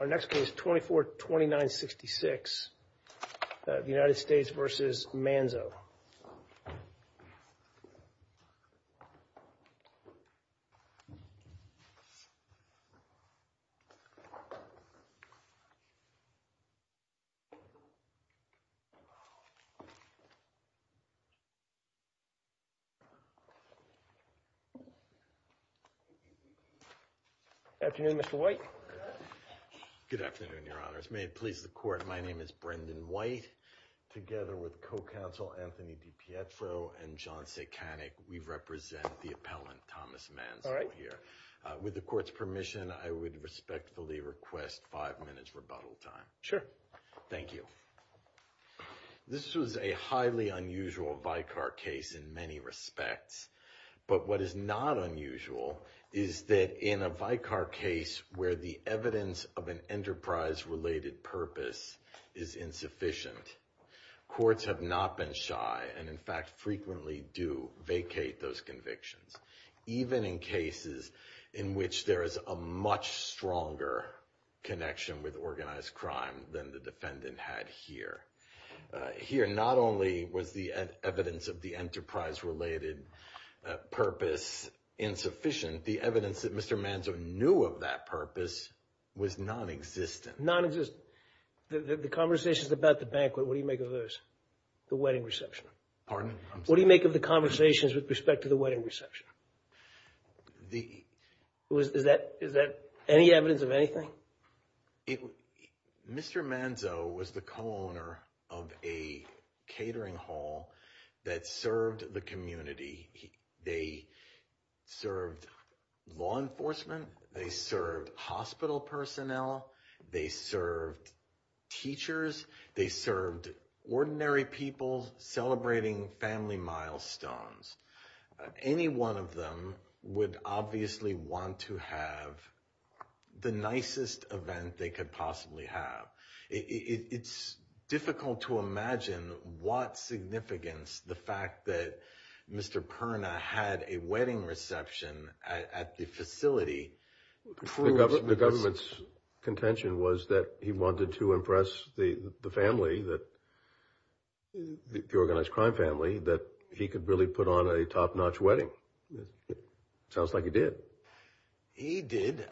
Our next case 24 29 66 the United States versus Manzo Good afternoon, Mr. White. Good afternoon, your honors. May it please the court. My name is Brendan White together with co-counsel Anthony DiPietro and John Sekanek. We represent the appellant Thomas Manzo here. With the court's permission, I would respectfully request five minutes rebuttal time. Sure. Thank you. This was a highly unusual Vicar case in many respects. But what is not unusual is that in a Vicar case where the evidence of an enterprise-related purpose is insufficient, courts have not been shy and in fact frequently do vacate those convictions, even in cases in which there is a much stronger connection with organized crime than the defendant had here. Here, not only was the evidence of the enterprise-related purpose insufficient, the evidence that Mr. Manzo knew of that purpose was non-existent. Non-existent. The conversations about the banquet, what do you make of those? The wedding reception? Pardon? I'm sorry. What do you make of the conversations with respect to the wedding reception? Is that any evidence of anything? Mr. Manzo was the co-owner of a catering that served the community. They served law enforcement, they served hospital personnel, they served teachers, they served ordinary people celebrating family milestones. Any one of them would obviously want to have the nicest event they could possibly have. It's difficult to imagine what significance the fact that Mr. Perna had a wedding reception at the facility. The government's contention was that he wanted to impress the family, the organized crime family, that he could really put on a top-notch wedding. It sounds like he did. He did.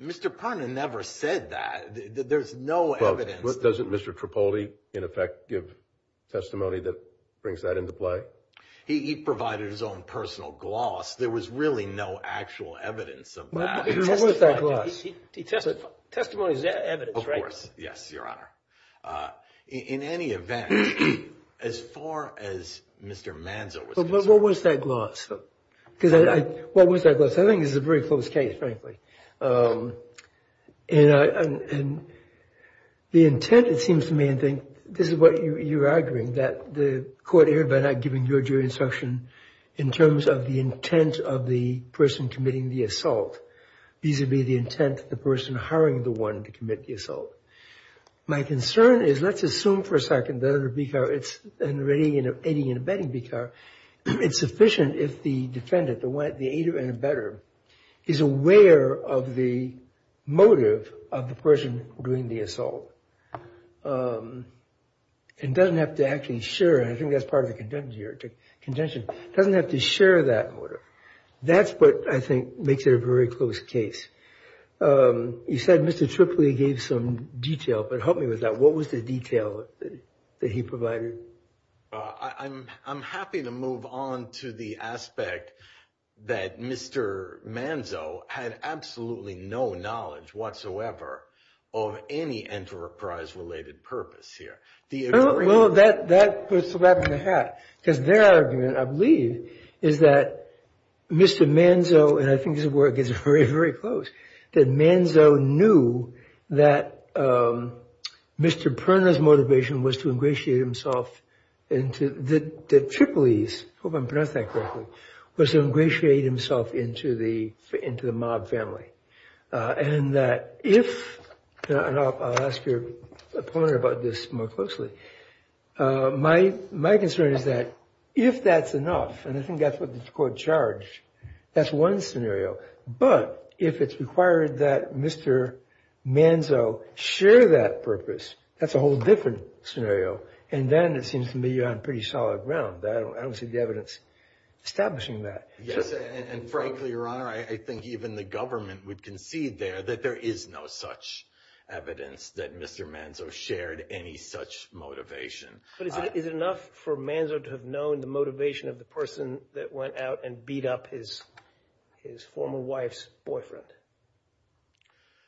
Mr. Perna never said that. There's no evidence. Doesn't Mr. Tripoli, in effect, give testimony that brings that into play? He provided his own personal gloss. There was really no actual evidence of that. What was that gloss? Testimony is evidence, right? Of course. Yes, Your Honor. In any event, as far as Mr. Manzo was concerned- What was that gloss? What was that gloss? I think this is a very close case, frankly. The intent, it seems to me, I think, this is what you're arguing, that the court erred by not giving your jury instruction in terms of the intent of the person committing the assault vis-a-vis the intent of the person hiring the one to commit the assault. My concern is, let's assume for a second it's an aiding and abetting, it's sufficient if the defendant, the aider and abetter, is aware of the motive of the person doing the assault. And doesn't have to actually share, and I think that's part of the contention, doesn't have to share that motive. That's what I think makes it a very close case. You said Mr. Tripoli gave some detail, but help me with that. What was the detail? He provided- I'm happy to move on to the aspect that Mr. Manzo had absolutely no knowledge whatsoever of any enterprise-related purpose here. Well, that puts the lab in the hat, because their argument, I believe, is that Mr. Manzo, and I think his work is very, very close, that Manzo knew that Mr. Perna's motivation was to ingratiate himself into the Tripolis, I hope I'm pronouncing that correctly, was to ingratiate himself into the mob family. And that if, and I'll ask your opponent about this more closely, my concern is that if that's enough, and I think that's what the court charged, that's one scenario. But if it's required that Mr. Manzo share that purpose, that's a whole different scenario. And then it seems to me you're on pretty solid ground. I don't see the evidence establishing that. Yes, and frankly, Your Honor, I think even the government would concede there that there is no such evidence that Mr. Manzo shared any such motivation. But is it enough for Manzo to have known the motivation of the person that went out and beat up his former wife's boyfriend?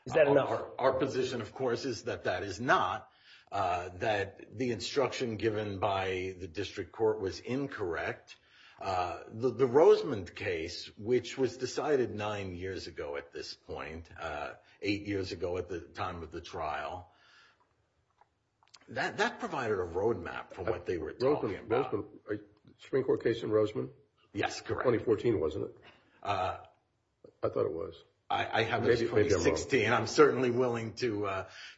Is that enough? Our position, of course, is that that is not. That the instruction given by the district court was incorrect. The Rosemond case, which was decided nine years ago at this point, eight years ago at the time of the trial, that provided a roadmap for what they were talking about. Spring Court case in Rosemond? Yes, correct. 2014, wasn't it? I thought it was. I have this 2016. I'm certainly willing to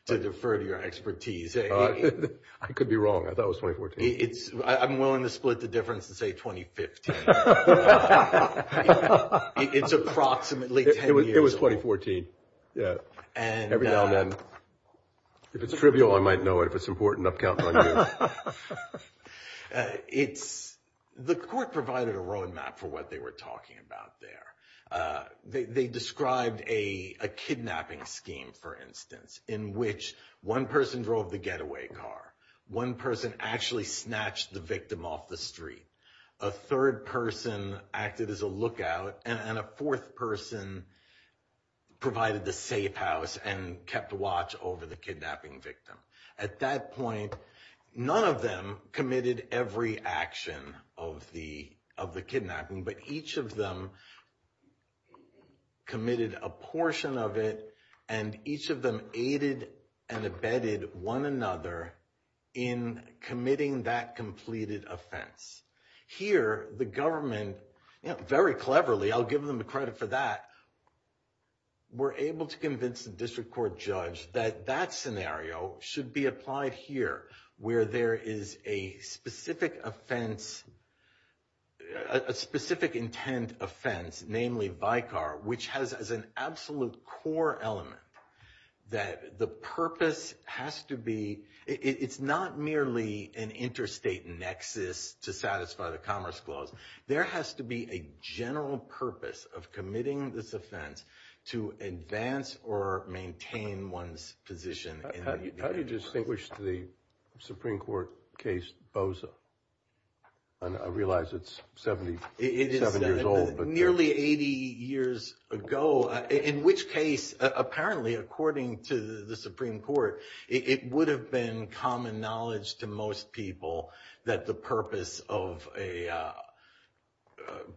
defer to your expertise. I could be wrong. I thought it was 2014. I'm willing to split the difference and say 2015. It's approximately 10 years old. It was 2014. Yeah. And- Every now and then. If it's trivial, I might know it. If it's important, I'll count on you. The court provided a roadmap for what they were talking about there. They described a kidnapping scheme, for instance, in which one person drove the getaway car. One person actually snatched the victim off the street. A third person acted as a lookout. And a fourth person provided the safe house and kept watch over the kidnapping victim. At that point, none of them committed every action of the kidnapping. But each of them committed a portion of it. And each of them aided and abetted one another in committing that completed offense. Here, the government, very cleverly, I'll give them the credit for that, were able to convince the district court judge that that scenario should be applied here, where there is a specific offense, a specific intent offense, namely Vicar, which has as an absolute core element that the purpose has to be, it's not merely an interstate nexus to satisfy the Commerce Clause. There has to be a general purpose of committing this offense to advance or maintain one's position. How do you distinguish the Supreme Court case Boza? I realize it's 77 years old. Nearly 80 years ago, in which case, apparently, according to the Supreme Court, it would have been common knowledge to most people that the purpose of a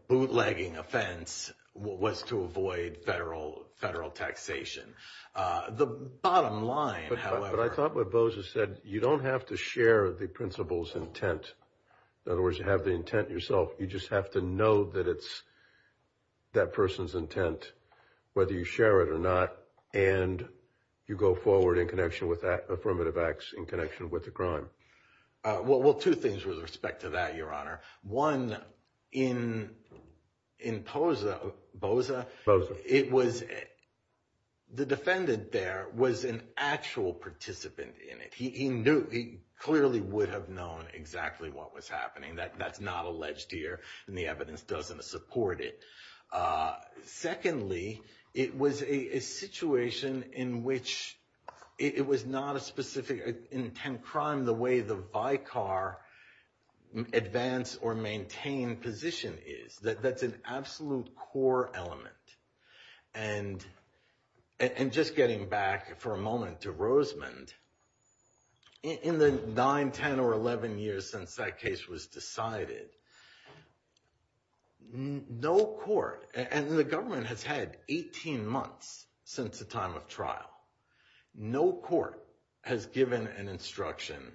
bootlegging offense was to avoid federal taxation. The bottom line, however- But I thought what Boza said, you don't have to share the principal's intent. In other words, you have the intent yourself. You just have to know that it's that person's intent, whether you share it or not. And you go forward in connection with that, Affirmative Acts, in connection with the crime. Well, two things with respect to that, Your Honor. One, in Boza, the defendant there was an actual participant in it. He clearly would have known exactly what was happening. That's not alleged here, and the evidence doesn't support it. Secondly, it was a situation in which it was not a specific intent crime, the way the bycar advance or maintain position is. That's an absolute core element. And just getting back for a moment to Rosemond, in the 9, 10, or 11 years since that case was decided, no court, and the government has had 18 months since the time of trial, no court has given an instruction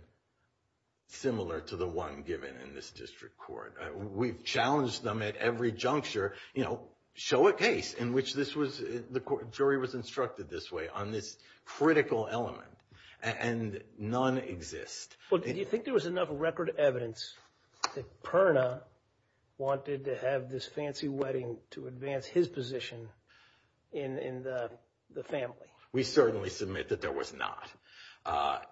similar to the one given in this district court. We've challenged them at every juncture, you know, show a case in which this was, the jury was instructed this way on this critical element, and none exist. Well, do you think there was enough record evidence that Perna wanted to have this fancy wedding to advance his position in the family? We certainly submit that there was not.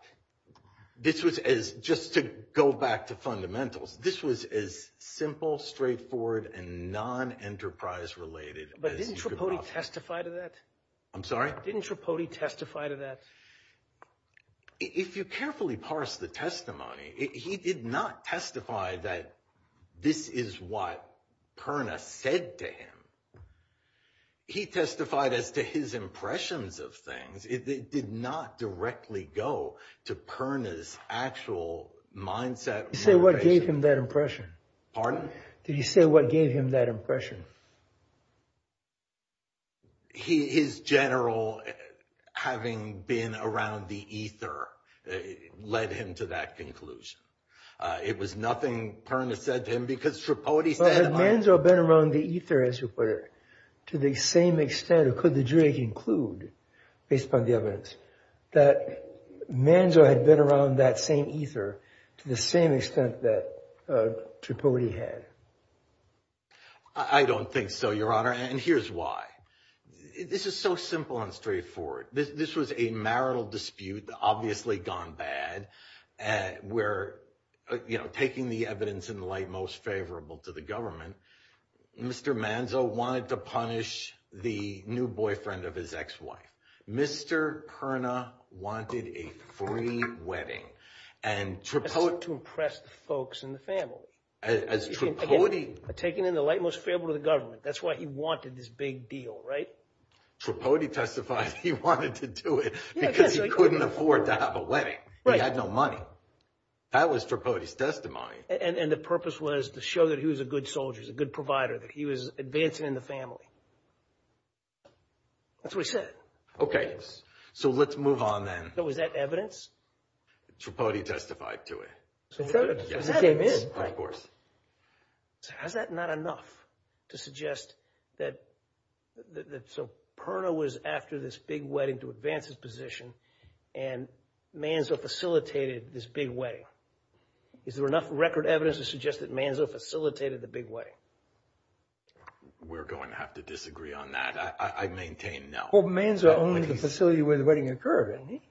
This was as, just to go back to fundamentals, this was as simple, straightforward, and non-enterprise related as you could offer. But didn't Trapodi testify to that? I'm sorry? Didn't Trapodi testify to that? If you carefully parse the testimony, he did not testify that this is what Perna said to him. He testified as to his impressions of things. It did not directly go to Perna's actual mindset. You say what gave him that impression? Did you say what gave him that impression? His general, having been around the ether, led him to that conclusion. It was nothing Perna said to him because Trapodi said it. But had Manzo been around the ether, as you put it, to the same extent, or could the jury conclude, based upon the evidence, that Manzo had been around that same ether to the same extent that Trapodi had? I don't think so, Your Honor. And here's why. This is so simple and straightforward. This was a marital dispute, obviously gone bad, where, you know, taking the evidence in the light most favorable to the government, Mr. Manzo wanted to punish the new boyfriend of his ex-wife. Mr. Perna wanted a free wedding. And Trapodi- As to impress the folks in the family. As Trapodi- Taking in the light most favorable to the government. That's why he wanted this big deal, right? Trapodi testified he wanted to do it because he couldn't afford to have a wedding. Right. He had no money. That was Trapodi's testimony. And the purpose was to show that he was a good soldier, he was a good provider, that he was advancing in the family. That's what he said. Okay. So let's move on then. Was that evidence? Trapodi testified to it. It came in. Has that not enough to suggest that so Perna was after this big wedding to advance his position and Manzo facilitated this big wedding? Is there enough record evidence to suggest that Manzo facilitated the big wedding? We're going to have to disagree on that. I maintain no. Well, Manzo owned the facility where the wedding occurred, didn't he?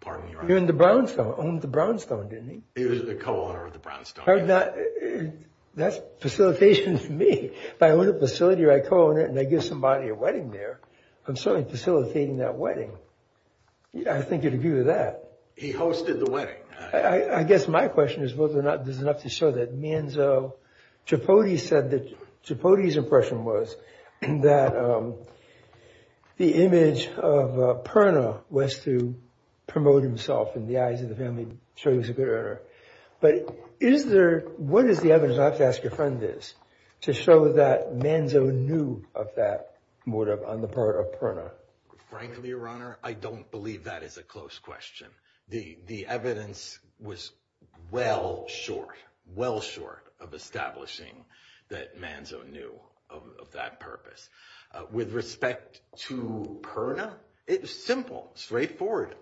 Pardon me, Your Honor. He owned the brownstone, didn't he? He was the co-owner of the brownstone. That's facilitation to me. If I own a facility or I co-own it and I give somebody a wedding there, I'm certainly facilitating that wedding. I think you'd agree with that. He hosted the wedding. I guess my question is whether or not there's enough to show that Manzo, Trapodi said that, Trapodi's impression was that the image of Perna was to promote himself in the eyes of the family, so he was a good owner. But is there, what is the evidence, I have to ask your friend this, to show that Manzo knew of that motive on the part of Perna? Frankly, Your Honor, I don't believe that is a close question. The evidence was well short, well short of establishing that Manzo knew of that purpose. With respect to Perna, it's simple, straightforward.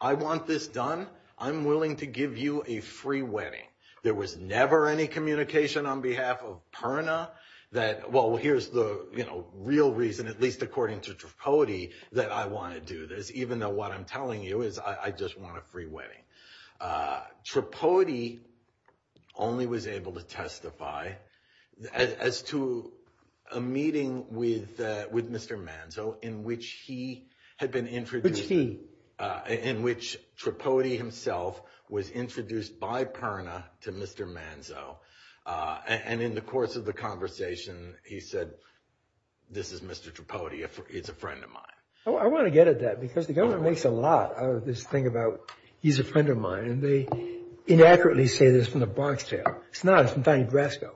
I want this done. I'm willing to give you a free wedding. There was never any communication on behalf of Perna that, well, here's the real reason, at least according to Trapodi, that I want to do this, even though what I'm telling you is I just want a free wedding. Trapodi only was able to testify as to a meeting with Mr. Manzo in which he had been introduced. Which he? In which Trapodi himself was introduced by Perna to Mr. Manzo. And in the course of the conversation, he said, this is Mr. Trapodi, he's a friend of mine. I want to get at that, because the government makes a lot out of this thing about he's a friend of mine, and they inaccurately say this from the Bronx tale. It's not, it's from Tiny Brasco.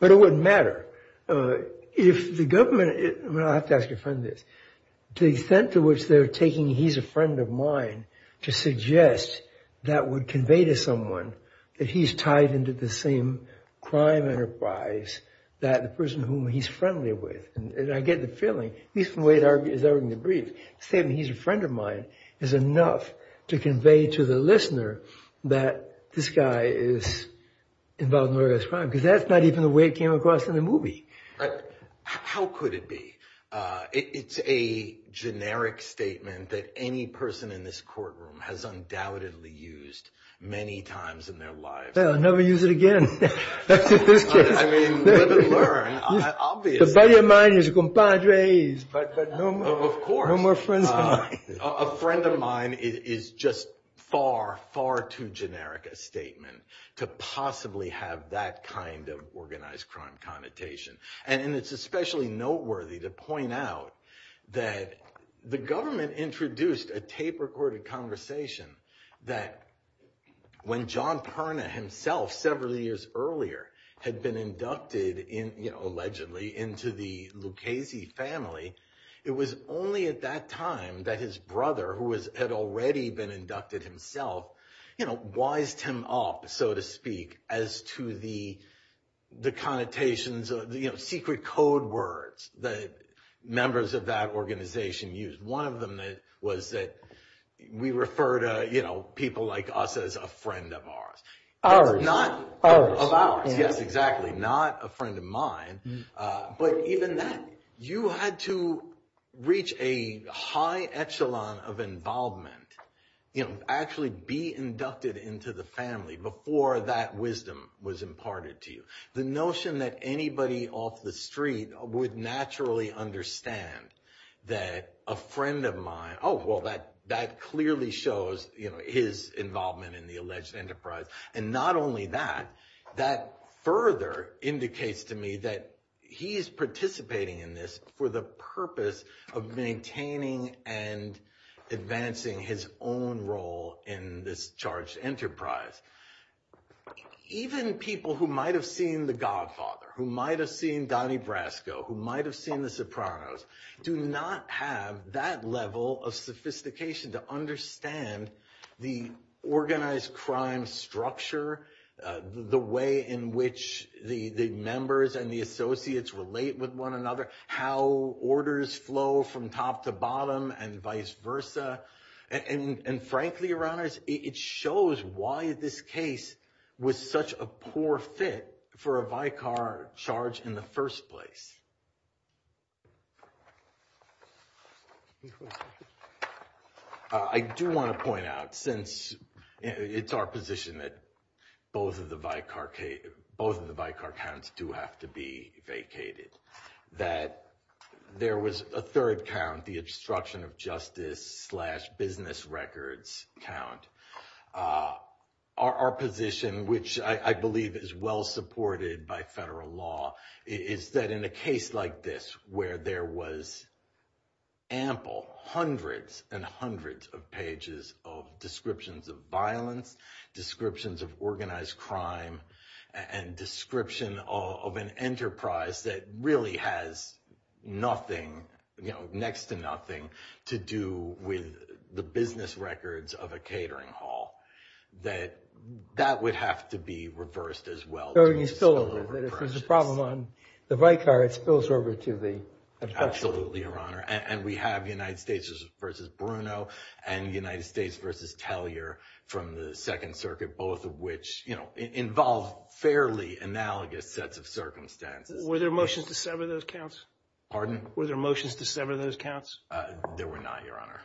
But it wouldn't matter. If the government, I have to ask your friend this, to the extent to which they're taking he's a friend of mine, to suggest that would convey to someone that he's tied into the same crime enterprise that the person whom he's friendly with. And I get the feeling, at least from the way it's argued in the brief, the statement he's a friend of mine is enough to convey to the listener that this guy is involved in murderous crime. Because that's not even the way it came across in the movie. How could it be? It's a generic statement that any person in this courtroom has undoubtedly used many times in their lives. Well, never use it again. I mean, live and learn, obviously. The buddy of mine is a compadre, but no more. Of course. No more friends of mine. A friend of mine is just far, far too generic a statement to possibly have that kind of organized crime connotation. And it's especially noteworthy to point out that the government introduced a tape-recorded conversation that when John Perna himself, several years earlier, had been inducted, allegedly, into the Lucchese family, it was only at that time that his brother, who had already been inducted himself, wised him up, so to speak, as to the connotations, secret code words that members of that organization used. One of them was that we refer to people like us as a friend of ours. Ours. Not of ours. Yes, exactly. Not a friend of mine. But even then, you had to reach a high echelon of involvement, you know, actually be inducted into the family before that wisdom was imparted to you. The notion that anybody off the street would naturally understand that a friend of mine, oh, well, that clearly shows, you know, his involvement in the alleged enterprise. And not only that, that further indicates to me that he's participating in this for the purpose of maintaining and advancing his own role in this charged enterprise. Even people who might have seen The Godfather, who might have seen Donnie Brasco, who might have seen The Sopranos, do not have that level of sophistication to understand the organized crime structure, the way in which the members and the associates relate with one another, how orders flow from top to bottom and vice versa. And frankly, Your Honors, it shows why this case was such a poor fit for a Vicar charge in the first place. I do want to point out, since it's our position that both of the Vicar counts do have to be vacated, that there was a third count, the obstruction of justice slash business records count. Our position, which I believe is well supported by federal law, is that in a case like this, where there was ample, hundreds and hundreds of pages of descriptions of violence, descriptions of organized crime, and description of an enterprise that really has nothing, you know, next to nothing to do with the business records of a catering hall, that that would have to be reversed as well. So you spill over, that if there's a problem on the Vicar, it spills over to the obstruction. Absolutely, Your Honor. And we have United States versus Bruno and United States versus Tellier from the Second Circuit, both of which involve fairly analogous sets of circumstances. Were there motions to sever those counts? Were there motions to sever those counts? There were not, Your Honor.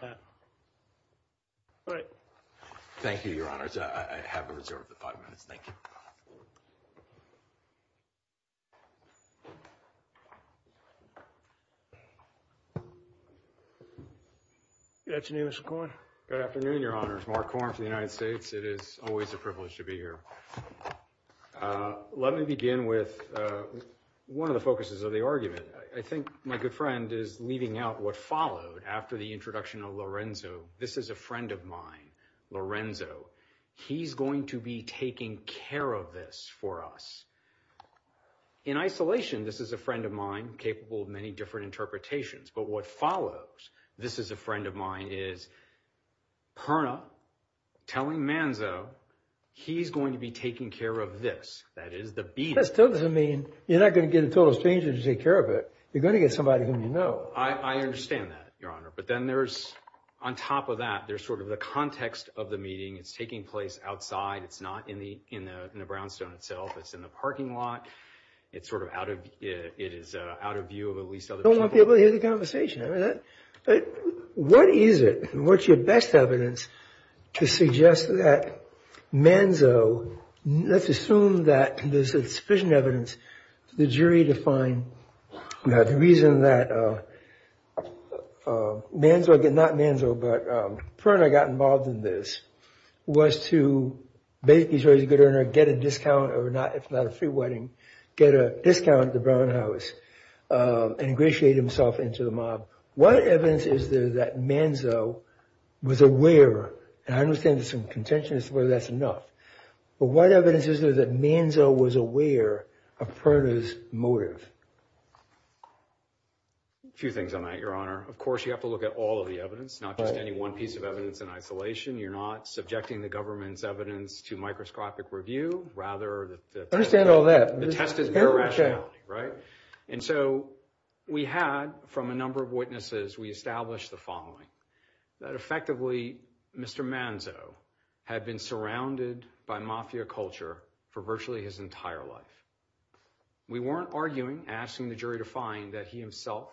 All right. Thank you, Your Honors. I have reserved the five minutes. Thank you. Good afternoon, Mr. Corn. Good afternoon, Your Honors. Mark Corn for the United States. It is always a privilege to be here. Let me begin with one of the focuses of the argument. I think my good friend is leaving out what followed after the introduction of Lorenzo. This is a friend of mine, Lorenzo. He's going to be taking care of this for us. In isolation, this is a friend of mine capable of many different interpretations. But what follows, this is a friend of mine, is Perna telling Manzo he's going to be taking care of this, that is, the beating. That still doesn't mean you're not going to get a total stranger to take care of it. You're going to get somebody whom you know. I understand that, Your Honor. But then there's, on top of that, there's sort of the context of the meeting. It's taking place outside. It's not in the brownstone itself. It's in the parking lot. It's sort of out of view of at least other people. I don't want people to hear the conversation. What is it? What's your best evidence to suggest that Manzo, let's assume that there's sufficient evidence, the jury to find the reason that Manzo, not Manzo, but Perna got involved in this, was to basically, Your Honor, get a discount, or if not a free wedding, get a discount at the Brown House and ingratiate himself into the mob. What evidence is there that Manzo was aware, and I understand there's some contention as to whether that's enough, but what evidence is there that Manzo was aware of Perna's motive? A few things on that, Your Honor. Of course, you have to look at all of the evidence, not just any one piece of evidence in isolation. You're not subjecting the government's evidence to microscopic review. Rather, the test is mere rationality, right? And so we had, from a number of witnesses, we established the following, that effectively Mr. Manzo had been surrounded by mafia culture for virtually his entire life. We weren't arguing, asking the jury to find that he himself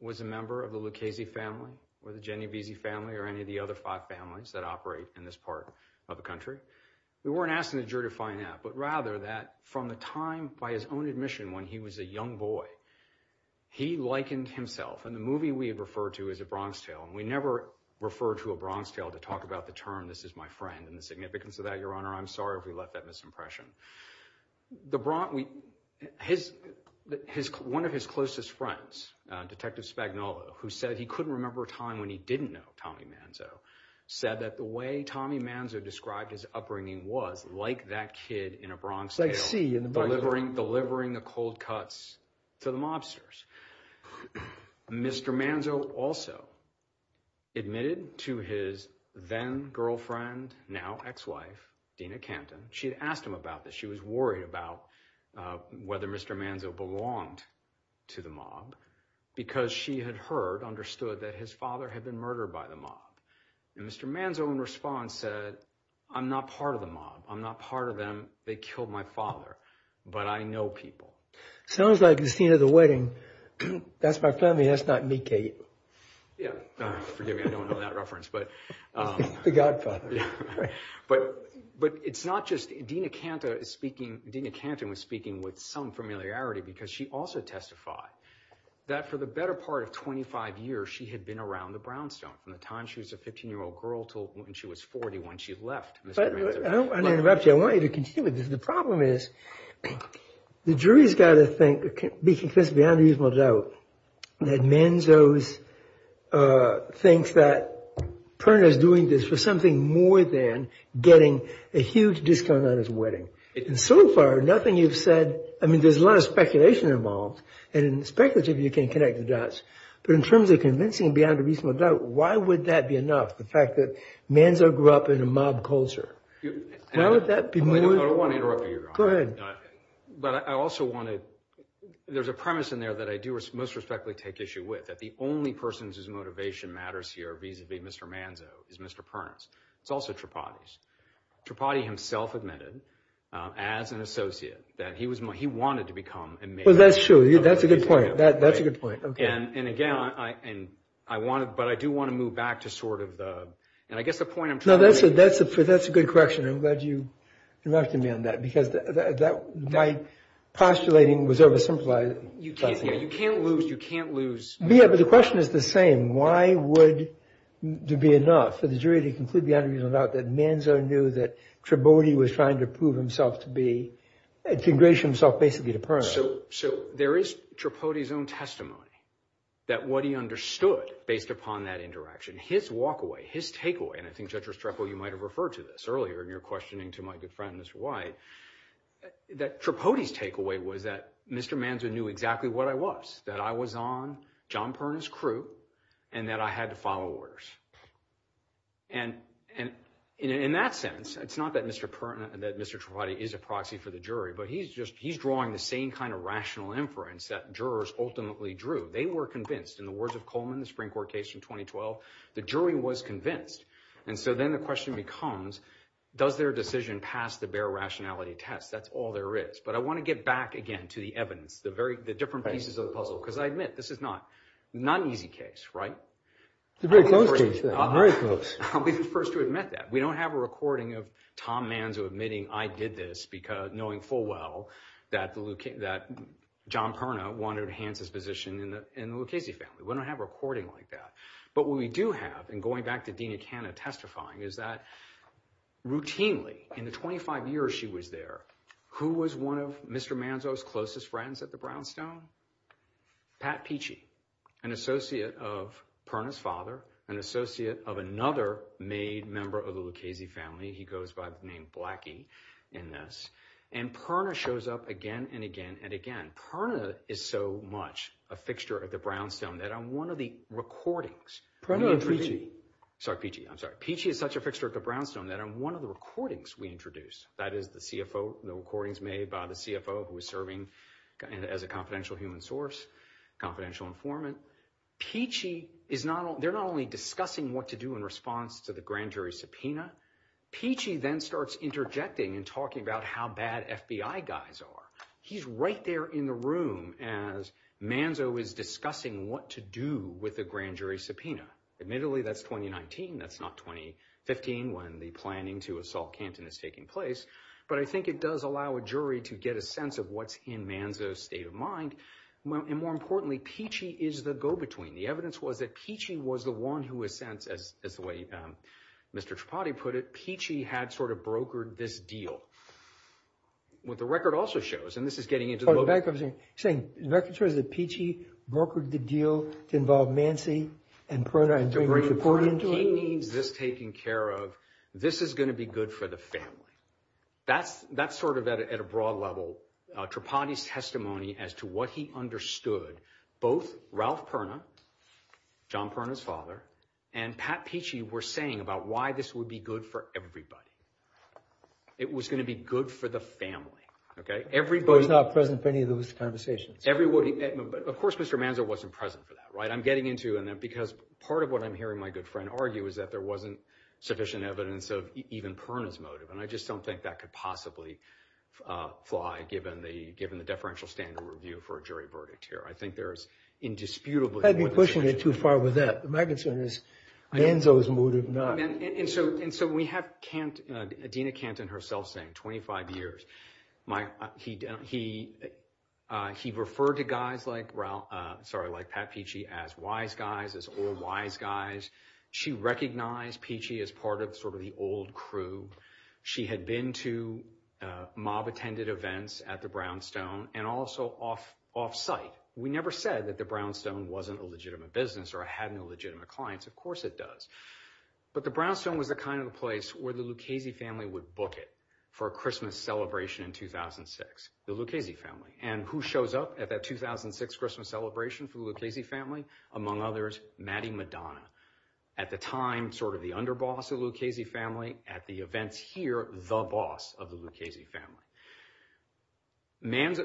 was a member of the Lucchese family or the Genovese family or any of the other five families that operate in this part of the country. We weren't asking the jury to find that, but rather that from the time by his own admission when he was a young boy, he likened himself, and the movie we had referred to as A Bronx Tale, and we never refer to A Bronx Tale to talk about the term, this is my friend and the significance of that, Your Honor. I'm sorry if we left that misimpression. One of his closest friends, Detective Spagnuolo, who said he couldn't remember a time when he didn't know Tommy Manzo, said that the way Tommy Manzo described his upbringing was like that kid in A Bronx Tale. Delivering the cold cuts to the mobsters. Mr. Manzo also admitted to his then-girlfriend, now ex-wife, Dina Canton. She had asked him about this. She was worried about whether Mr. Manzo belonged to the mob because she had heard, understood, that his father had been murdered by the mob. And Mr. Manzo, in response, said, I'm not part of the mob. I'm not part of them. They killed my father. But I know people. Sounds like the scene of the wedding. That's my family. That's not me, Kate. Yeah, forgive me. I don't know that reference, but... The godfather. But it's not just... Dina Canton was speaking with some familiarity because she also testified that for the better part of 25 years, she had been around the Brownstone from the time she was a 15-year-old girl till when she was 40 when she left Mr. Manzo. I don't want to interrupt you. I want you to continue with this. The problem is the jury's got to think, be convinced beyond a reasonable doubt that Manzo thinks that Perna's doing this for something more than getting a huge discount on his wedding. And so far, nothing you've said... I mean, there's a lot of speculation involved. And in the speculative, you can't connect the dots. But in terms of convincing beyond a reasonable doubt, why would that be enough? The fact that Manzo grew up in a mob culture. Why would that be more... I don't want to interrupt you. Go ahead. But I also want to... There's a premise in there that I do most respectfully take issue with, that the only person whose motivation matters here vis-a-vis Mr. Manzo is Mr. Perna's. It's also Tripathi's. Tripathi himself admitted as an associate that he wanted to become a mayor. Well, that's true. That's a good point. That's a good point. And again, I wanted... But I do want to move back to sort of the... And I guess the point I'm trying to make... No, that's a good correction. I'm glad you directed me on that because my postulating was oversimplified. You can't lose... You can't lose... Yeah, but the question is the same. Why would there be enough for the jury to conclude beyond a reasonable doubt that Manzo knew that Tripathi was trying to prove himself to be... To engrage himself basically to Perna. So there is Tripathi's own testimony that what he understood based upon that interaction, his walkaway, his takeaway, and I think Judge Restrepo, you might've referred to this earlier in your questioning to my good friend, Mr. White, that Tripathi's takeaway was that Mr. Manzo knew exactly what I was, that I was on John Perna's crew and that I had to file orders. And in that sense, it's not that Mr. Tripathi is a proxy for the jury, but he's drawing the same kind of rational inference that jurors ultimately drew. They were convinced in the words of Coleman, the Supreme Court case from 2012, the jury was convinced. And so then the question becomes, does their decision pass the bare rationality test? That's all there is. But I wanna get back again to the evidence, the different pieces of the puzzle. Because I admit, this is not an easy case, right? It's a very close case, though, very close. I'll be the first to admit that. We don't have a recording of Tom Manzo admitting, I did this knowing full well that John Perna wanted to enhance his position in the Lucchese family. We don't have a recording like that. But what we do have, and going back to Dina Canna testifying, is that routinely, in the 25 years she was there, who was one of Mr. Manzo's closest friends at the Brownstone? Pat Peachy, an associate of Perna's father, an associate of another made member of the Lucchese family. He goes by the name Blackie in this. And Perna shows up again and again and again. Perna is so much a fixture at the Brownstone that on one of the recordings- Perna and Peachy. Sorry, Peachy, I'm sorry. Peachy is such a fixture at the Brownstone that on one of the recordings we introduced, that is the recordings made by the CFO who was serving as a confidential human source, confidential informant, they're not only discussing what to do in response to the grand jury subpoena, Peachy then starts interjecting and talking about how bad FBI guys are. He's right there in the room as Manzo is discussing what to do with the grand jury subpoena. Admittedly, that's 2019. That's not 2015 when the planning to assault Canton is taking place. But I think it does allow a jury to get a sense of what's in Manzo's state of mind. And more importantly, Peachy is the go-between. The evidence was that Peachy was the one who, in a sense, as the way Mr. Tripati put it, Peachy had sort of brokered this deal. What the record also shows, and this is getting into the- The record shows that Peachy brokered the deal to involve Manzo and Perna in bringing Tripati into it. He needs this taken care of. This is going to be good for the family. That's sort of at a broad level. Tripati's testimony as to what he understood, both Ralph Perna, John Perna's father, and Pat Peachy were saying about why this would be good for everybody. It was going to be good for the family. Okay, everybody- Was not present for any of those conversations. Everybody, of course, Mr. Manzo wasn't present for that, right? I'm getting into, because part of what I'm hearing my good friend argue is that there wasn't sufficient evidence of even Perna's motive, and I just don't think that could possibly fly given the deferential standard review for a jury verdict here. I think there's indisputably- I'd be pushing it too far with that. My concern is Manzo's motive not- And so we have Dena Kanton herself saying, 25 years, he referred to guys like Pat Peachy as wise guys, as old wise guys. She recognized Peachy as part of sort of the old crew. She had been to mob-attended events at the Brownstone and also off-site. We never said that the Brownstone wasn't a legitimate business or had no legitimate clients. Of course it does. But the Brownstone was the kind of place where the Lucchese family would book it for a Christmas celebration in 2006. The Lucchese family. And who shows up at that 2006 Christmas celebration for the Lucchese family? Among others, Maddy Madonna. At the time, sort of the underboss of the Lucchese family. At the events here, the boss of the Lucchese family.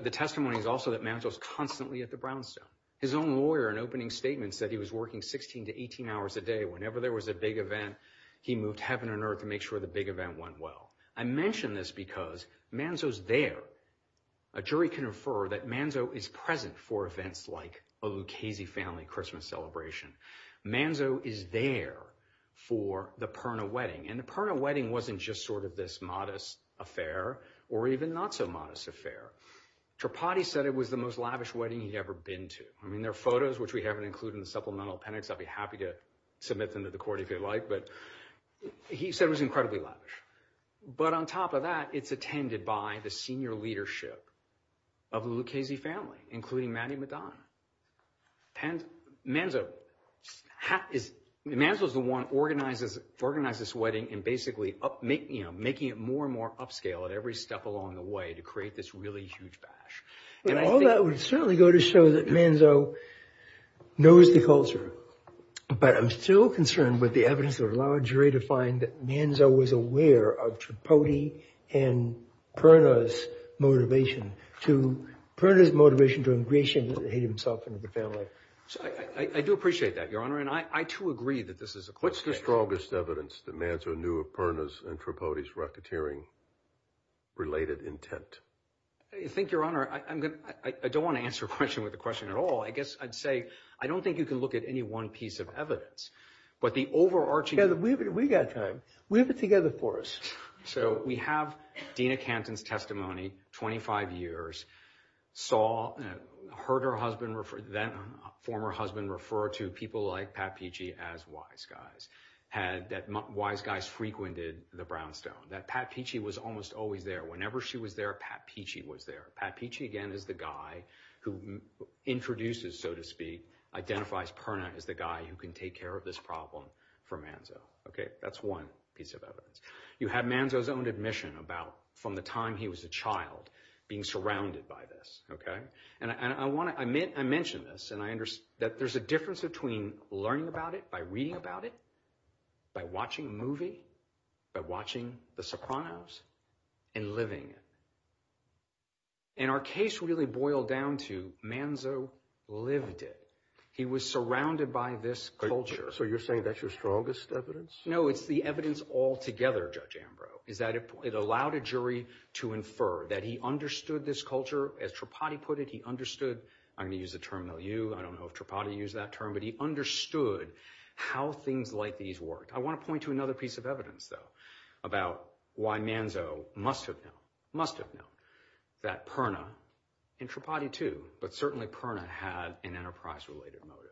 The testimony is also that Manzo's constantly at the Brownstone. His own lawyer, in opening statements, said he was working 16 to 18 hours a day. Whenever there was a big event, he moved heaven and earth to make sure the big event went well. I mention this because Manzo's there. A jury can refer that Manzo is present for events like a Lucchese family Christmas celebration. Manzo is there for the Perna wedding. And the Perna wedding wasn't just sort of this modest affair or even not so modest affair. Tripati said it was the most lavish wedding he'd ever been to. I mean, there are photos, which we haven't included in the supplemental appendix. I'd be happy to submit them to the court if you like. But he said it was incredibly lavish. But on top of that, it's attended by the senior leadership of the Lucchese family, including Maddy Medan. Manzo is the one who organized this wedding and basically making it more and more upscale at every step along the way to create this really huge bash. And I think- All that would certainly go to show that Manzo knows the culture. But I'm still concerned with the evidence that would allow a jury to find that Manzo was aware of Tripati and Perna's motivation. Perna's motivation to ingratiate himself into the family. So I do appreciate that, Your Honor. And I, too, agree that this is a- What's the strongest evidence that Manzo knew of Perna's and Tripati's racketeering-related intent? I think, Your Honor, I don't want to answer a question with a question at all. I guess I'd say, I don't think you can look at any one piece of evidence. But the overarching- We've got time. We have it together for us. So we have Dina Canton's testimony, 25 years, saw, heard her husband, then former husband, refer to people like Pat Pichie as wise guys. That wise guys frequented the brownstone. That Pat Pichie was almost always there. Whenever she was there, Pat Pichie was there. Pat Pichie, again, is the guy who introduces, so to speak, identifies Perna as the guy who can take care of this problem for Manzo, okay? That's one piece of evidence. You have Manzo's own admission about, from the time he was a child, being surrounded by this, okay? And I want to- I mentioned this, and I understand that there's a difference between learning about it by reading about it, by watching a movie, by watching The Sopranos, and living it. And our case really boiled down to Manzo lived it. He was surrounded by this culture. So you're saying that's your strongest evidence? No, it's the evidence altogether, Judge Ambrose, is that it allowed a jury to infer that he understood this culture. As Tripati put it, he understood- I'm going to use the term now, you, I don't know if Tripati used that term, but he understood how things like these worked. I want to point to another piece of evidence, though, about why Manzo must have known, must have known, that Perna, and Tripati too, but certainly Perna, had an enterprise-related motive.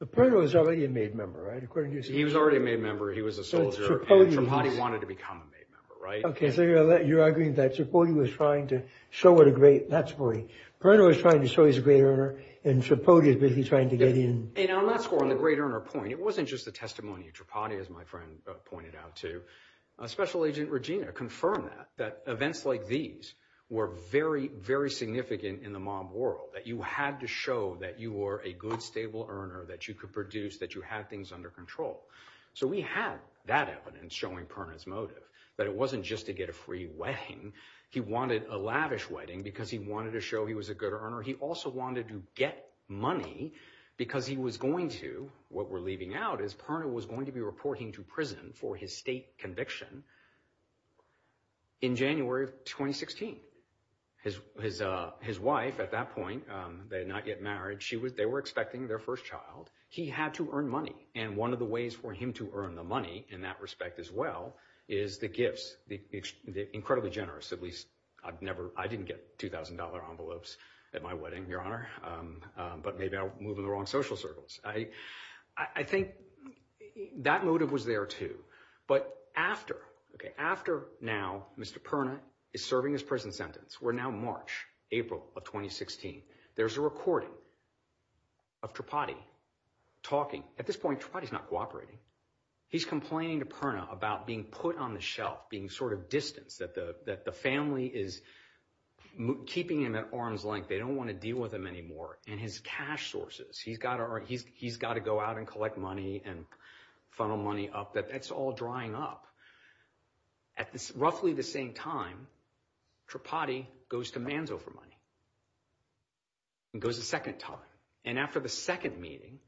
But Perna was already a MAID member, right, according to you? He was already a MAID member, he was a soldier, and Tripati wanted to become a MAID member, right? Okay, so you're agreeing that Tripati was trying to show what a great- not Tripati, Perna was trying to show he's a great earner, and Tripati was basically trying to get in- And on that score, on the great earner point, it wasn't just the testimony of Tripati, as my friend pointed out too. Special Agent Regina confirmed that, that events like these were very, very significant in the mob world, that you had to show that you were a good, stable earner, that you could produce, that you had things under control. So we had that evidence showing Perna's motive, that it wasn't just to get a free wedding, he wanted a lavish wedding because he wanted to show he was a good earner. He also wanted to get money because he was going to, what we're leaving out, is Perna was going to be reporting to prison for his state conviction in January of 2016. His wife, at that point, they had not yet married, she was, they were expecting their first child. He had to earn money, and one of the ways for him to earn the money, in that respect as well, is the gifts, the incredibly generous, at least I've never, I didn't get $2,000 envelopes at my wedding, Your Honor, but maybe I'll move in the wrong social circles. I think that motive was there too, but after, okay, after now, Mr. Perna is serving his prison sentence, we're now March, April of 2016, there's a recording of Tripathi talking. At this point, Tripathi's not cooperating. He's complaining to Perna about being put on the shelf, being sort of distanced, that the family is keeping him at arm's length, they don't want to deal with him anymore, and his cash sources, he's got to go out and collect money and funnel money up, that's all drying up. At roughly the same time, Tripathi goes to Manzo for money. He goes a second time, and after the second meeting,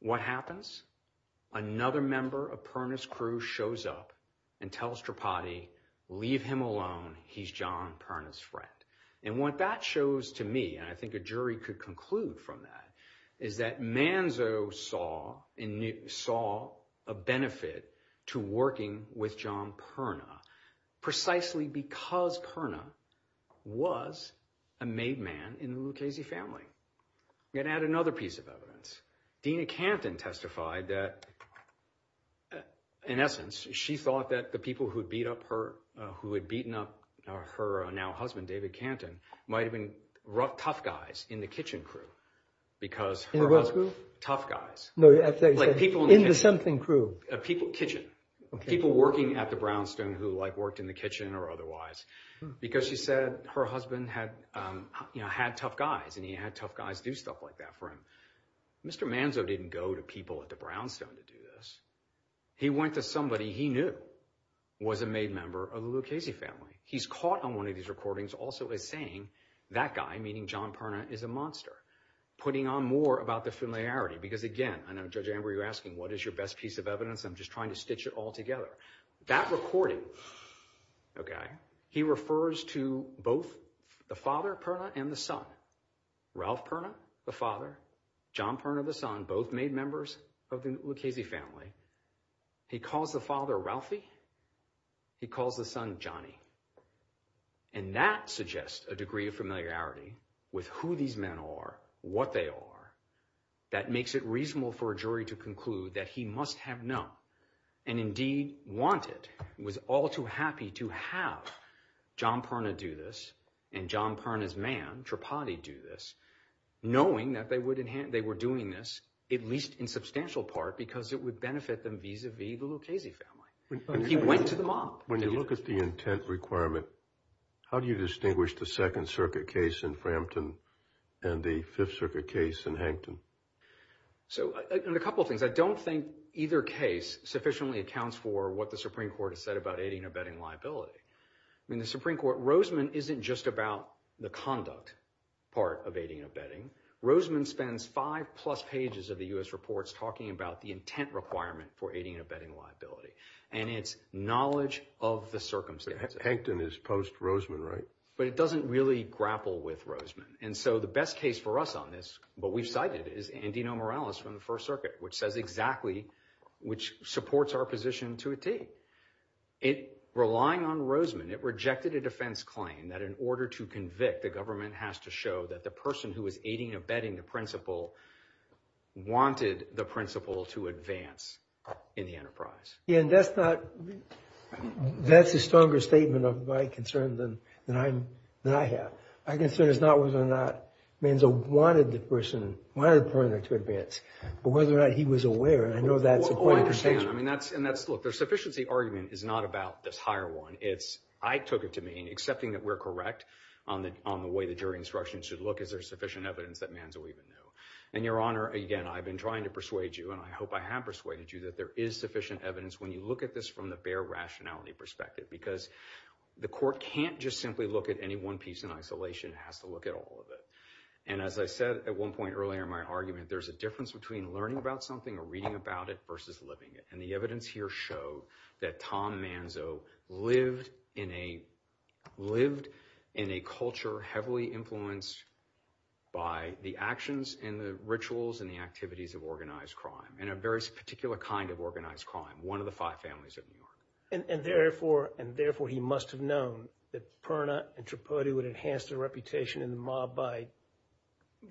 what happens? Another member of Perna's crew shows up and tells Tripathi, leave him alone, he's John Perna's friend. And what that shows to me, and I think a jury could conclude from that, is that Manzo saw a benefit to working with John Perna, precisely because Perna was a made man in the Lucchese family. I'm going to add another piece of evidence. Dina Canton testified that, in essence, she thought that the people who had beaten up her, who had beaten up her now husband, David Canton, might have been tough guys in the kitchen crew, because her husband, tough guys. No, I thought you said, in the something crew. Kitchen. People working at the Brownstone who worked in the kitchen or otherwise, because she said her husband had tough guys and he had tough guys do stuff like that for him. Mr. Manzo didn't go to people at the Brownstone to do this. He went to somebody he knew was a made member of the Lucchese family. He's caught on one of these recordings also as saying, that guy, meaning John Perna, is a monster, putting on more about the familiarity. Because again, I know, Judge Amber, you're asking, what is your best piece of evidence? I'm just trying to stitch it all together. That recording, okay, he refers to both the father, Perna, and the son. Ralph Perna, the father, John Perna, the son, both made members of the Lucchese family. He calls the father, Ralphie. He calls the son, Johnny. And that suggests a degree of familiarity with who these men are, what they are, that makes it reasonable for a jury to conclude that he must have known and indeed wanted, was all too happy to have John Perna do this, and John Perna's man, Tripati, do this, knowing that they would enhance, they were doing this, at least in substantial part, because it would benefit them vis-a-vis the Lucchese family. He went to the mob. When you look at the intent requirement, how do you distinguish the Second Circuit case in Frampton and the Fifth Circuit case in Hankton? So, a couple of things. I don't think either case sufficiently accounts for what the Supreme Court has said about aiding and abetting liability. I mean, the Supreme Court, Roseman isn't just about the conduct part of aiding and abetting. Roseman spends five-plus pages of the U.S. reports talking about the intent requirement for aiding and abetting liability, and it's knowledge of the circumstances. Hankton is post-Roseman, right? But it doesn't really grapple with Roseman, and so the best case for us on this, what we've cited, is Andino Morales from the First Circuit, which says exactly, which supports our position to a T. Relying on Roseman, it rejected a defense claim that in order to convict, the government has to show that the person who is aiding and abetting the principal wanted the principal to advance in the enterprise. Yeah, and that's not, that's a stronger statement of my concern than I have. My concern is not whether or not Manzo wanted the person, wanted the prisoner to advance, but whether or not he was aware, and I know that's a point. Well, I understand. I mean, that's, and that's, look, the sufficiency argument is not about this higher one. It's, I took it to mean, accepting that we're correct on the way the jury instruction should look, is there sufficient evidence that Manzo even knew? And, Your Honor, again, I've been trying to persuade you, and I hope I have persuaded you, that there is sufficient evidence when you look at this from the fair rationality perspective, because the court can't just simply look at any one piece in isolation. It has to look at all of it. And as I said at one point earlier in my argument, there's a difference between learning about something or reading about it versus living it. And the evidence here showed that Tom Manzo lived in a, lived in a culture heavily influenced by the actions and the rituals and the activities of organized crime, and a very particular kind of organized crime, one of the five families of New York. And therefore, and therefore, he must have known that Perna and Tripodi would enhance their reputation in the mob by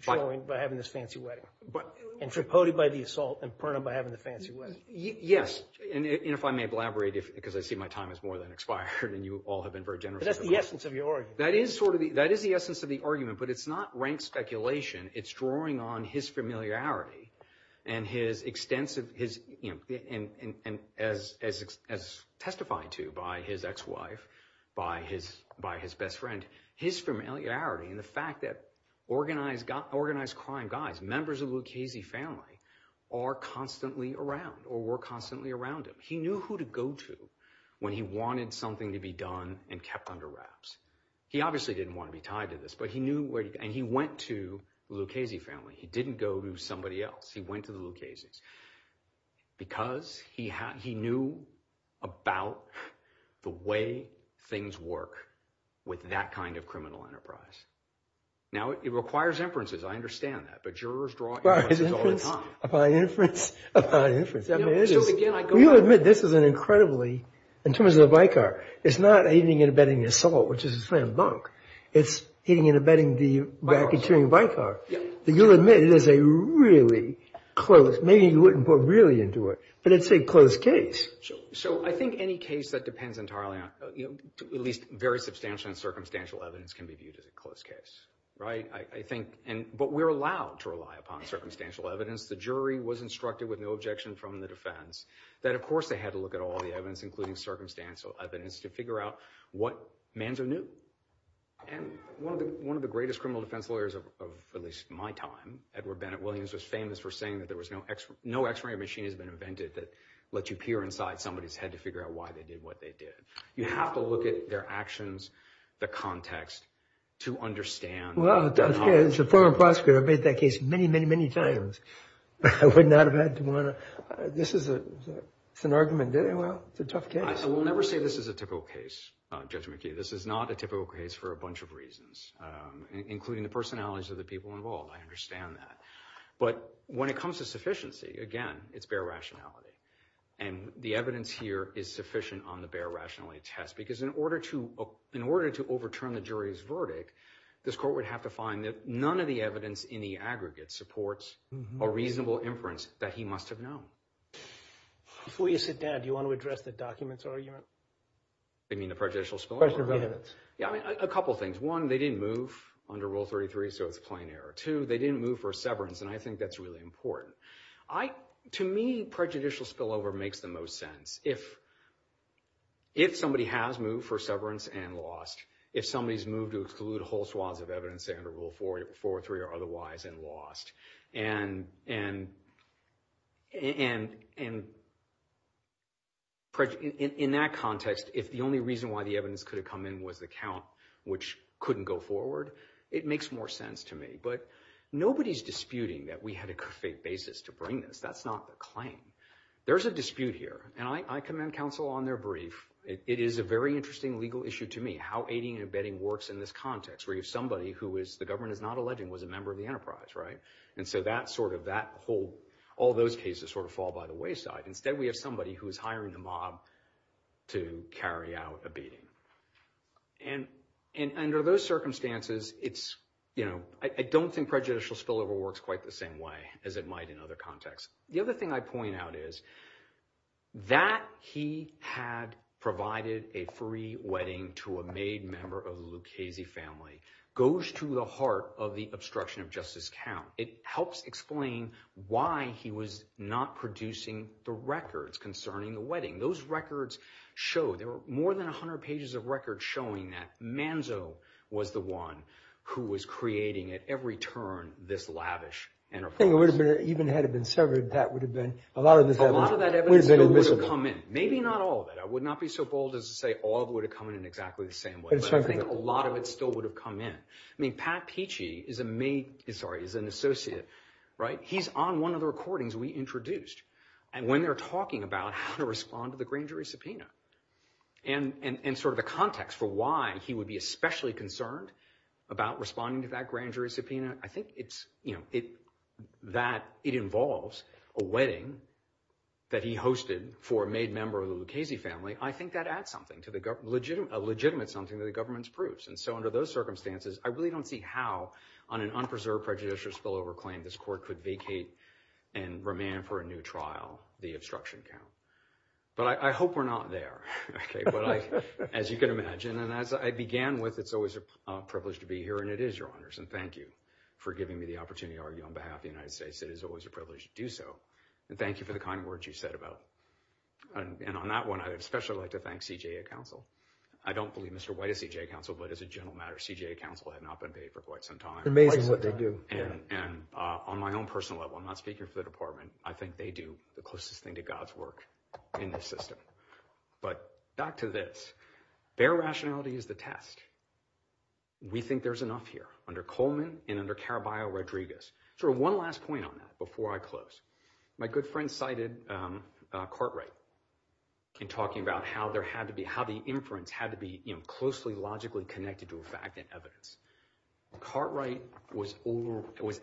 showing, by having this fancy wedding. But- And Tripodi by the assault, and Perna by having the fancy wedding. Yes. And if I may elaborate, because I see my time has more than expired, and you all have been very generous. But that's the essence of your argument. That is sort of the, that is the essence of the argument, but it's not rank speculation. It's drawing on his familiarity and his extensive, his, and as testified to by his ex-wife, by his best friend, his familiarity and the fact that organized crime guys, members of the Lucchese family, are constantly around or were constantly around him. He knew who to go to when he wanted something to be done and kept under wraps. He obviously didn't want to be tied to this, but he knew where, and he went to the Lucchese family. He didn't go to somebody else. He went to the Lucchese because he knew about the way things work with that kind of criminal enterprise. Now, it requires inferences. I understand that, but jurors draw inferences all the time. Upon inference, upon inference. I mean, it is. You'll admit this is an incredibly, in terms of the Vicar, it's not a hitting and abetting assault, which is a slam dunk. It's hitting and abetting the racketeering Vicar. But you'll admit it is a really close, maybe you wouldn't put really into it, but it's a close case. So I think any case that depends entirely on, you know, at least very substantial and circumstantial evidence can be viewed as a close case, right? I think, and, but we're allowed to rely upon circumstantial evidence The jury was instructed with no objection from the defense that, of course, they had to look at all the evidence, including circumstantial evidence to figure out what Manzo knew. And one of the greatest criminal defense lawyers of at least my time, Edward Bennett Williams, was famous for saying that there was no x, no x-ray machine has been invented that lets you peer inside somebody's head to figure out why they did what they did. You have to look at their actions, the context to understand. Well, as a former prosecutor, I've made that case many, many, many times. I would not have had to want to, this is a, it's an argument. Well, it's a tough case. I will never say this is a typical case, Judge McKee. This is not a typical case for a bunch of reasons, including the personalities of the people involved. I understand that. But when it comes to sufficiency, again, it's bare rationality. And the evidence here is sufficient on the bare rationality test, because in order to, in order to overturn the jury's verdict, this court would have to find that none of the evidence in the aggregate supports a reasonable inference that he must have known. Before you sit down, do you want to address the documents argument? You mean the prejudicial spillover? Question of evidence. Yeah, I mean, a couple of things. One, they didn't move under Rule 33, so it's a plain error. Two, they didn't move for severance, and I think that's really important. To me, prejudicial spillover makes the most sense. If somebody has moved for severance and lost, if somebody's moved to exclude whole swaths of evidence, say under Rule 43 or otherwise, and lost, and in that context, if the only reason why the evidence could have come in was the count, which couldn't go forward, it makes more sense to me. But nobody's disputing that we had a good faith basis to bring this. That's not the claim. There's a dispute here, and I commend counsel on their brief. It is a very interesting legal issue to me, how aiding and abetting works in this context, where you have somebody who the government is not alleging was a member of the enterprise, right? And so all those cases sort of fall by the wayside. Instead, we have somebody who is hiring a mob to carry out abetting. And under those circumstances, I don't think prejudicial spillover works quite the same way as it might in other contexts. The other thing I point out is that he had provided a free wedding to a made member of the Lucchese family goes to the heart of the obstruction of justice count. It helps explain why he was not producing the records concerning the wedding. Those records show there were more than 100 pages of records showing that Manzo was the one who was creating at every turn this lavish enterprise. I think it would have been even had it been severed, that would have been a lot of this evidence. A lot of that evidence would have come in. Maybe not all of it. I would not be so bold as to say all of it would have come in in exactly the same way. But I think a lot of it still would have come in. I mean, Pat Pichie is a made, sorry, is an associate, right? He's on one of the recordings we introduced. And when they're talking about how to respond to the grand jury subpoena and sort of the context for why he would be especially concerned about responding to that grand jury subpoena, I think it's, you know, that it involves a wedding that he hosted for a made member of the Lucchese family. I think that adds something to the government, a legitimate something that the government approves. And so under those circumstances, I really don't see how on an unpreserved prejudicious spillover claim this court could vacate and remand for a new trial the obstruction count. But I hope we're not there, okay? But I, as you can imagine, and as I began with, it's always a privilege to be here and it is, Your Honors. And thank you for giving me the opportunity to argue on behalf of the United States. It is always a privilege to do so. And thank you for the kind words you said about. And on that one, I'd especially like to thank CJA counsel. I don't believe Mr. White is CJA counsel, but as a general matter, CJA counsel had not been paid for quite some time. It's amazing what they do. And on my own personal level, I'm not speaking for the department. I think they do the closest thing to God's work in this system. But back to this, bare rationality is the test. We think there's enough here under Coleman and under Caraballo-Rodriguez. Sort of one last point on that before I close. My good friend cited Cartwright in talking about how there had to be, how the inference had to be, closely, logically connected to a fact and evidence. Cartwright was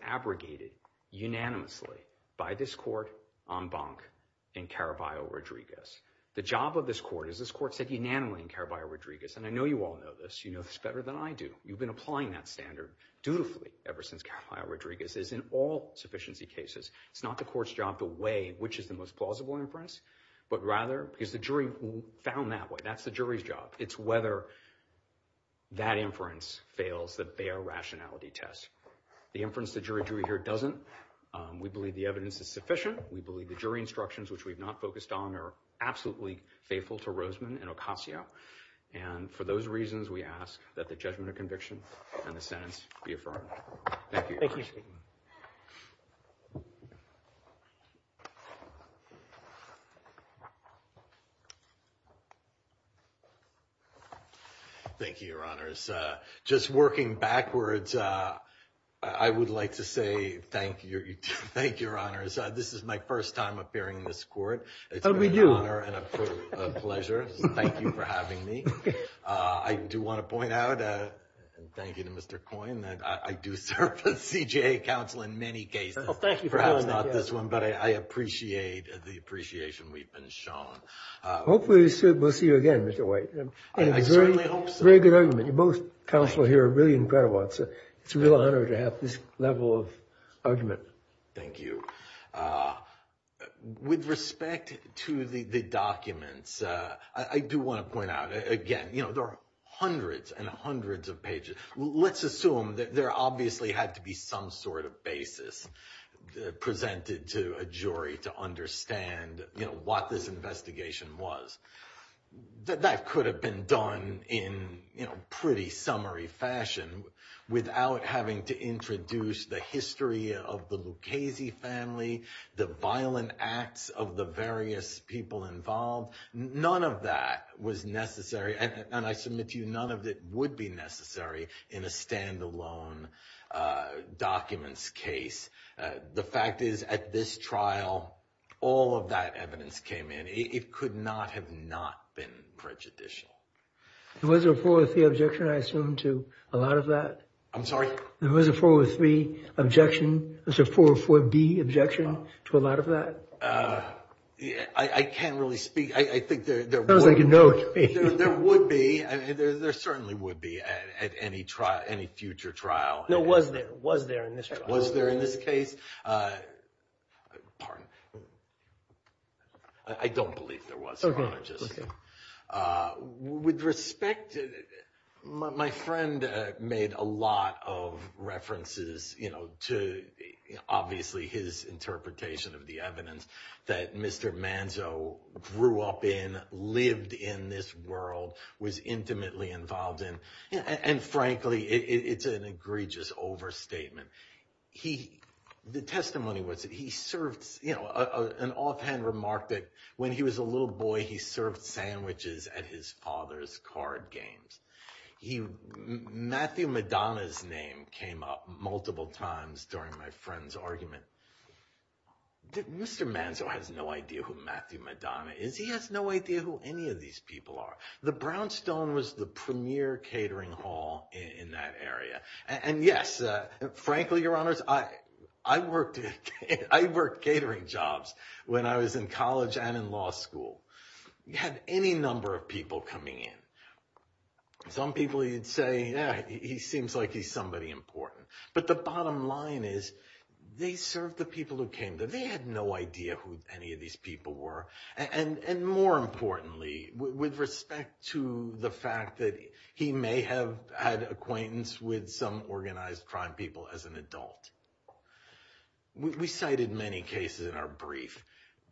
abrogated unanimously by this court en banc in Caraballo-Rodriguez. The job of this court is this court said unanimously in Caraballo-Rodriguez, and I know you all know this. You know this better than I do. You've been applying that standard dutifully ever since Caraballo-Rodriguez is in all sufficiency cases. It's not the court's job to weigh which is the most plausible inference, but rather because the jury found that way. That's the jury's job. It's whether that inference fails the Bayer Rationality Test. The inference the jury drew here doesn't. We believe the evidence is sufficient. We believe the jury instructions, which we've not focused on, are absolutely faithful to Roseman and Ocasio. And for those reasons, we ask that the judgment of conviction and the sentence be affirmed. Thank you. Thank you, Your Honors. Just working backwards, I would like to say thank you. Thank you, Your Honors. This is my first time appearing in this court. It's an honor and a pleasure. Thank you for having me. I do want to point out, and thank you to Mr. Coyne, I do serve the CJA Council in many cases. Well, thank you for having me. Perhaps not this one, but I appreciate the appreciation we've been shown. Hopefully, we'll see you again, Mr. White. I certainly hope so. Very good argument. You both counsel here are really incredible. It's a real honor to have this level of argument. Thank you. With respect to the documents, I do want to point out, again, there are hundreds and hundreds of pages. Let's assume that there obviously had to be some sort of basis presented to a jury to understand what this investigation was. That could have been done in pretty summary fashion without having to introduce the history of the Lucchese family, the violent acts of the various people involved. None of that was necessary. And I submit to you, none of it would be necessary in a standalone documents case. The fact is, at this trial, all of that evidence came in. It could not have not been prejudicial. There was a 403 objection, I assume, to a lot of that? I'm sorry? There was a 403 objection, there was a 404B objection to a lot of that? I can't really speak. I think there- Sounds like a no to me. There would be. There certainly would be at any future trial. No, was there? Was there in this case? Was there in this case? Pardon? I don't believe there was, I want to just- With respect, my friend made a lot of references to obviously his interpretation of the evidence that Mr. Manzo grew up in, lived in this world, was intimately involved in. And frankly, it's an egregious overstatement. The testimony was that he served, you know, an offhand remark that when he was a little boy, he served sandwiches at his father's card games. Matthew Madonna's name came up multiple times during my friend's argument. Mr. Manzo has no idea who Matthew Madonna is. He has no idea who any of these people are. The Brownstone was the premier catering hall in that area. And yes, frankly, your honors, I worked catering jobs when I was in college and in law school. You had any number of people coming in. Some people you'd say, yeah, he seems like he's somebody important. But the bottom line is they served the people who came there. They had no idea who any of these people were. And more importantly, with respect to the fact that he may have had acquaintance with some organized crime people as an adult. We cited many cases in our brief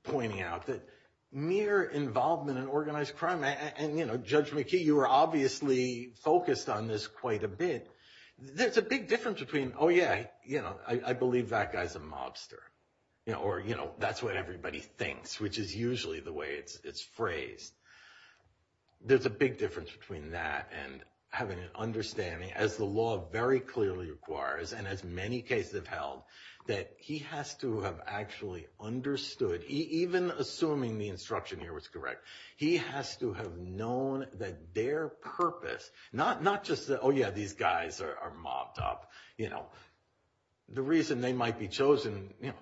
pointing out that mere involvement in organized crime, and, you know, Judge McKee, you were obviously focused on this quite a bit. There's a big difference between, oh, yeah, you know, I believe that guy's a mobster, or, you know, that's what everybody thinks, which is usually the way it's phrased. There's a big difference between that and having an understanding, as the law very clearly requires, and as many cases have held, that he has to have actually understood, even assuming the instruction here was correct, he has to have known that their purpose, not just the, oh, yeah, these guys are mobbed up, you know, the reason they might be chosen, you know,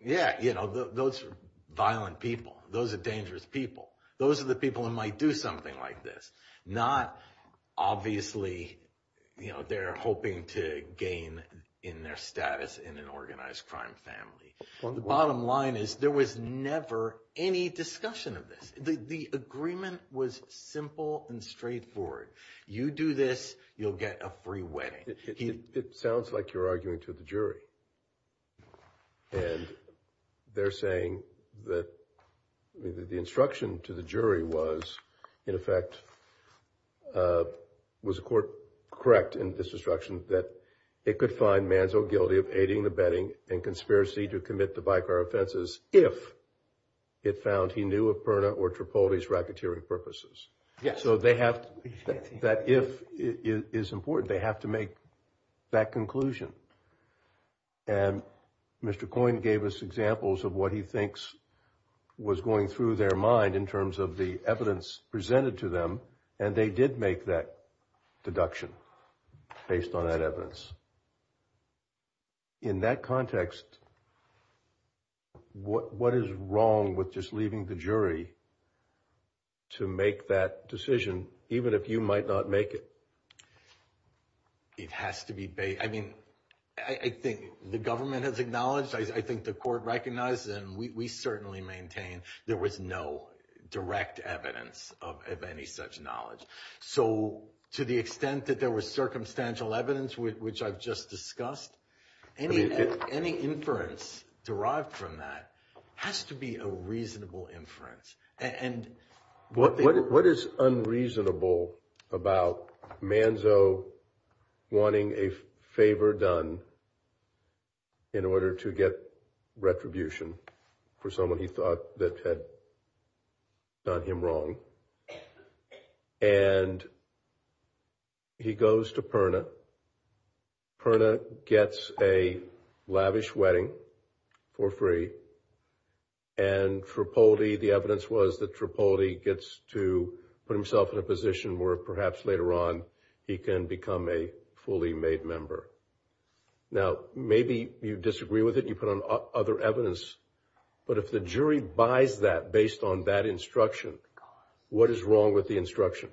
yeah, you know, those are violent people. Those are dangerous people. Those are the people who might do something like this. Not, obviously, you know, they're hoping to gain in their status in an organized crime family. On the bottom line is there was never any discussion of this. The agreement was simple and straightforward. You do this, you'll get a free wedding. It sounds like you're arguing to the jury. And they're saying that the instruction to the jury was, in effect, was the court correct in this instruction that it could find Manzo guilty of aiding the betting and conspiracy to commit the bi-car offenses if it found he knew of Perna or Tripoli's racketeering purposes. Yeah, so they have, that if is important, they have to make that conclusion. And Mr. Coyne gave us examples of what he thinks was going through their mind in terms of the evidence presented to them. And they did make that deduction based on that evidence. In that context, what is wrong with just leaving the jury to make that decision even if you might not make it? It has to be, I mean, I think the government has acknowledged, I think the court recognized, and we certainly maintain, there was no direct evidence of any such knowledge. So to the extent that there was circumstantial evidence, which I've just discussed, any inference derived from that has to be a reasonable inference. What is unreasonable about Manzo wanting a favor done in order to get retribution for someone he thought that had done him wrong? And he goes to Perna. Perna gets a lavish wedding for free. And Tripoli, the evidence was that Tripoli gets to put himself in a position where perhaps later on he can become a fully made member. Now, maybe you disagree with it, you put on other evidence, but if the jury buys that based on that instruction, what is wrong with the instruction?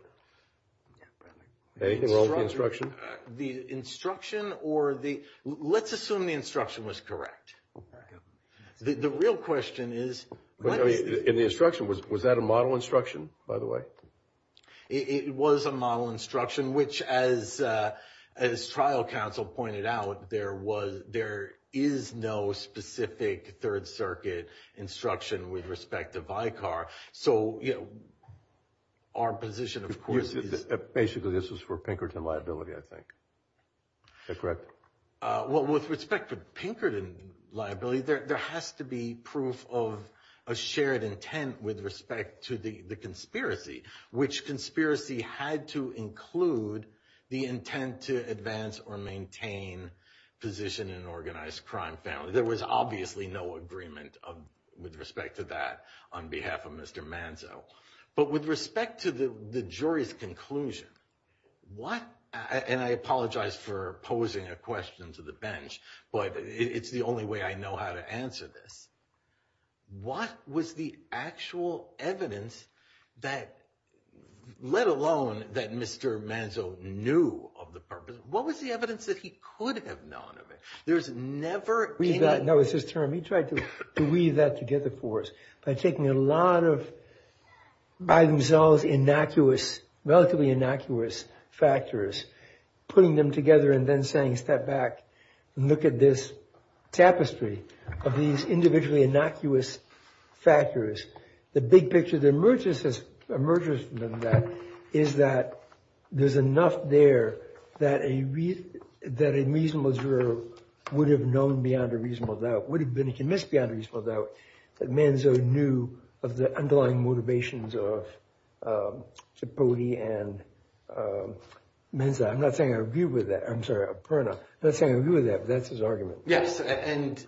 Anything wrong with the instruction? Let's assume the instruction was correct. The real question is... In the instruction, was that a model instruction, by the way? It was a model instruction, which as trial counsel pointed out, there is no specific Third Circuit instruction with respect to Vicar. So, our position, of course, is... Basically, this was for Pinkerton liability, I think. Is that correct? Well, with respect to Pinkerton liability, there has to be proof of a shared intent with respect to the conspiracy, which conspiracy had to include the intent to advance or maintain position in an organized crime family. There was obviously no agreement with respect to that on behalf of Mr. Manzo. But with respect to the jury's conclusion, what... And I apologize for posing a question to the bench, but it's the only way I know how to answer this. What was the actual evidence that... knew of the purpose? What was the evidence that he could have known of it? There's never... That was his term. He tried to weave that together for us by taking a lot of by themselves innocuous, relatively innocuous factors, putting them together and then saying, step back and look at this tapestry of these individually innocuous factors. The big picture that emerges from that is that there's enough there that a reasonable juror would have known beyond a reasonable doubt, would have been convinced beyond a reasonable doubt that Manzo knew of the underlying motivations of Cipolli and Manzo. I'm not saying I agree with that. I'm sorry, Perna. I'm not saying I agree with that, but that's his argument. Yes, and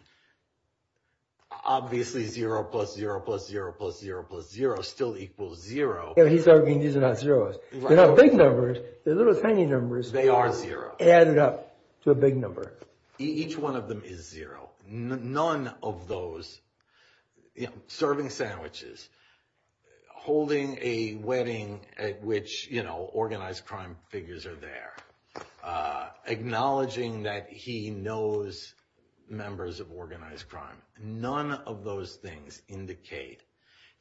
obviously zero plus zero plus zero plus zero plus zero still equals zero. He's arguing these are not zeros. They're not big numbers. They're little tiny numbers. They are zero. Added up to a big number. Each one of them is zero. None of those, serving sandwiches, holding a wedding at which organized crime figures are there, acknowledging that he knows members of organized crime. None of those things indicate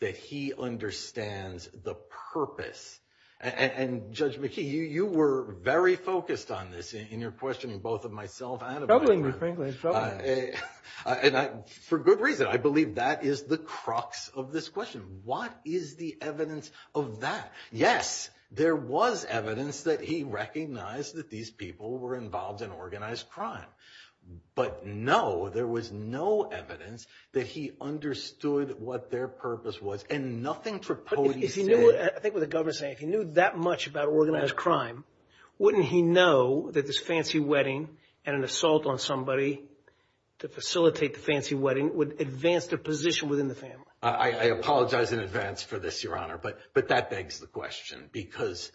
that he understands the purpose. And Judge McKee, you were very focused on this in your questioning, both of myself and of my friend. It's troubling me, Franklin. It's troubling me. And for good reason. I believe that is the crux of this question. What is the evidence of that? Yes, there was evidence that he recognized that these people were involved in organized crime. But no, there was no evidence that he understood what their purpose was. And nothing Tripodi said. I think what the governor's saying, if he knew that much about organized crime, wouldn't he know that this fancy wedding and an assault on somebody to facilitate the fancy wedding would advance their position within the family? I apologize in advance for this, Your Honor. But that begs the question. Because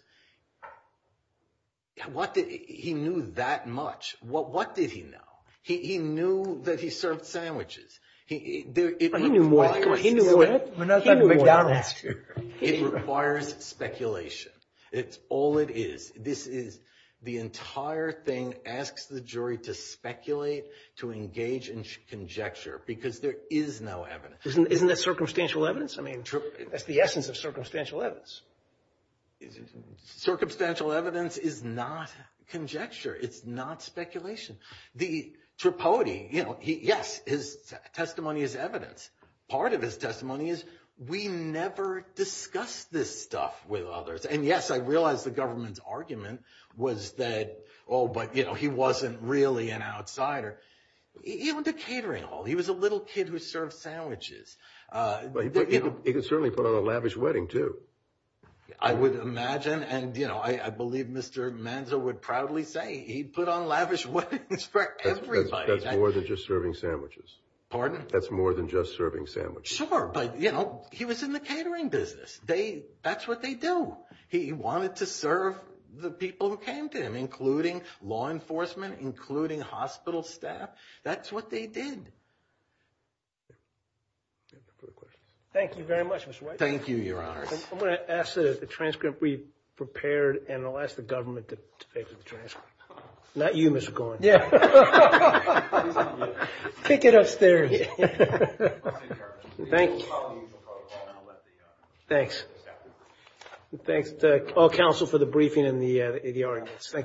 he knew that much. What did he know? He knew that he served sandwiches. He knew more than that. He knew more than that. It requires speculation. It's all it is. This is the entire thing asks the jury to speculate, to engage in conjecture because there is no evidence. Isn't that circumstantial evidence? I mean, that's the essence of circumstantial evidence. Circumstantial evidence is not conjecture. It's not speculation. The Tripodi, you know, yes, his testimony is evidence. Part of his testimony is we never discuss this stuff with others. And yes, I realize the government's argument was that, oh, but, you know, he wasn't really an outsider. He owned a catering hall. He was a little kid who served sandwiches. But he could certainly put on a lavish wedding too. I would imagine. And, you know, I believe Mr. Manzo would proudly say he'd put on lavish weddings for everybody. That's more than just serving sandwiches. That's more than just serving sandwiches. Sure, but, you know, he was in the catering business. They, that's what they do. He wanted to serve the people who came to him, including law enforcement, including hospital staff. That's what they did. Thank you very much, Mr. White. Thank you, Your Honor. I'm going to ask that the transcript be prepared and I'll ask the government to paper the transcript. Not you, Mr. Gorin. Yeah. Take it upstairs. Thank you. Thanks. Thanks to all counsel for the briefing and the arguments. Thank you.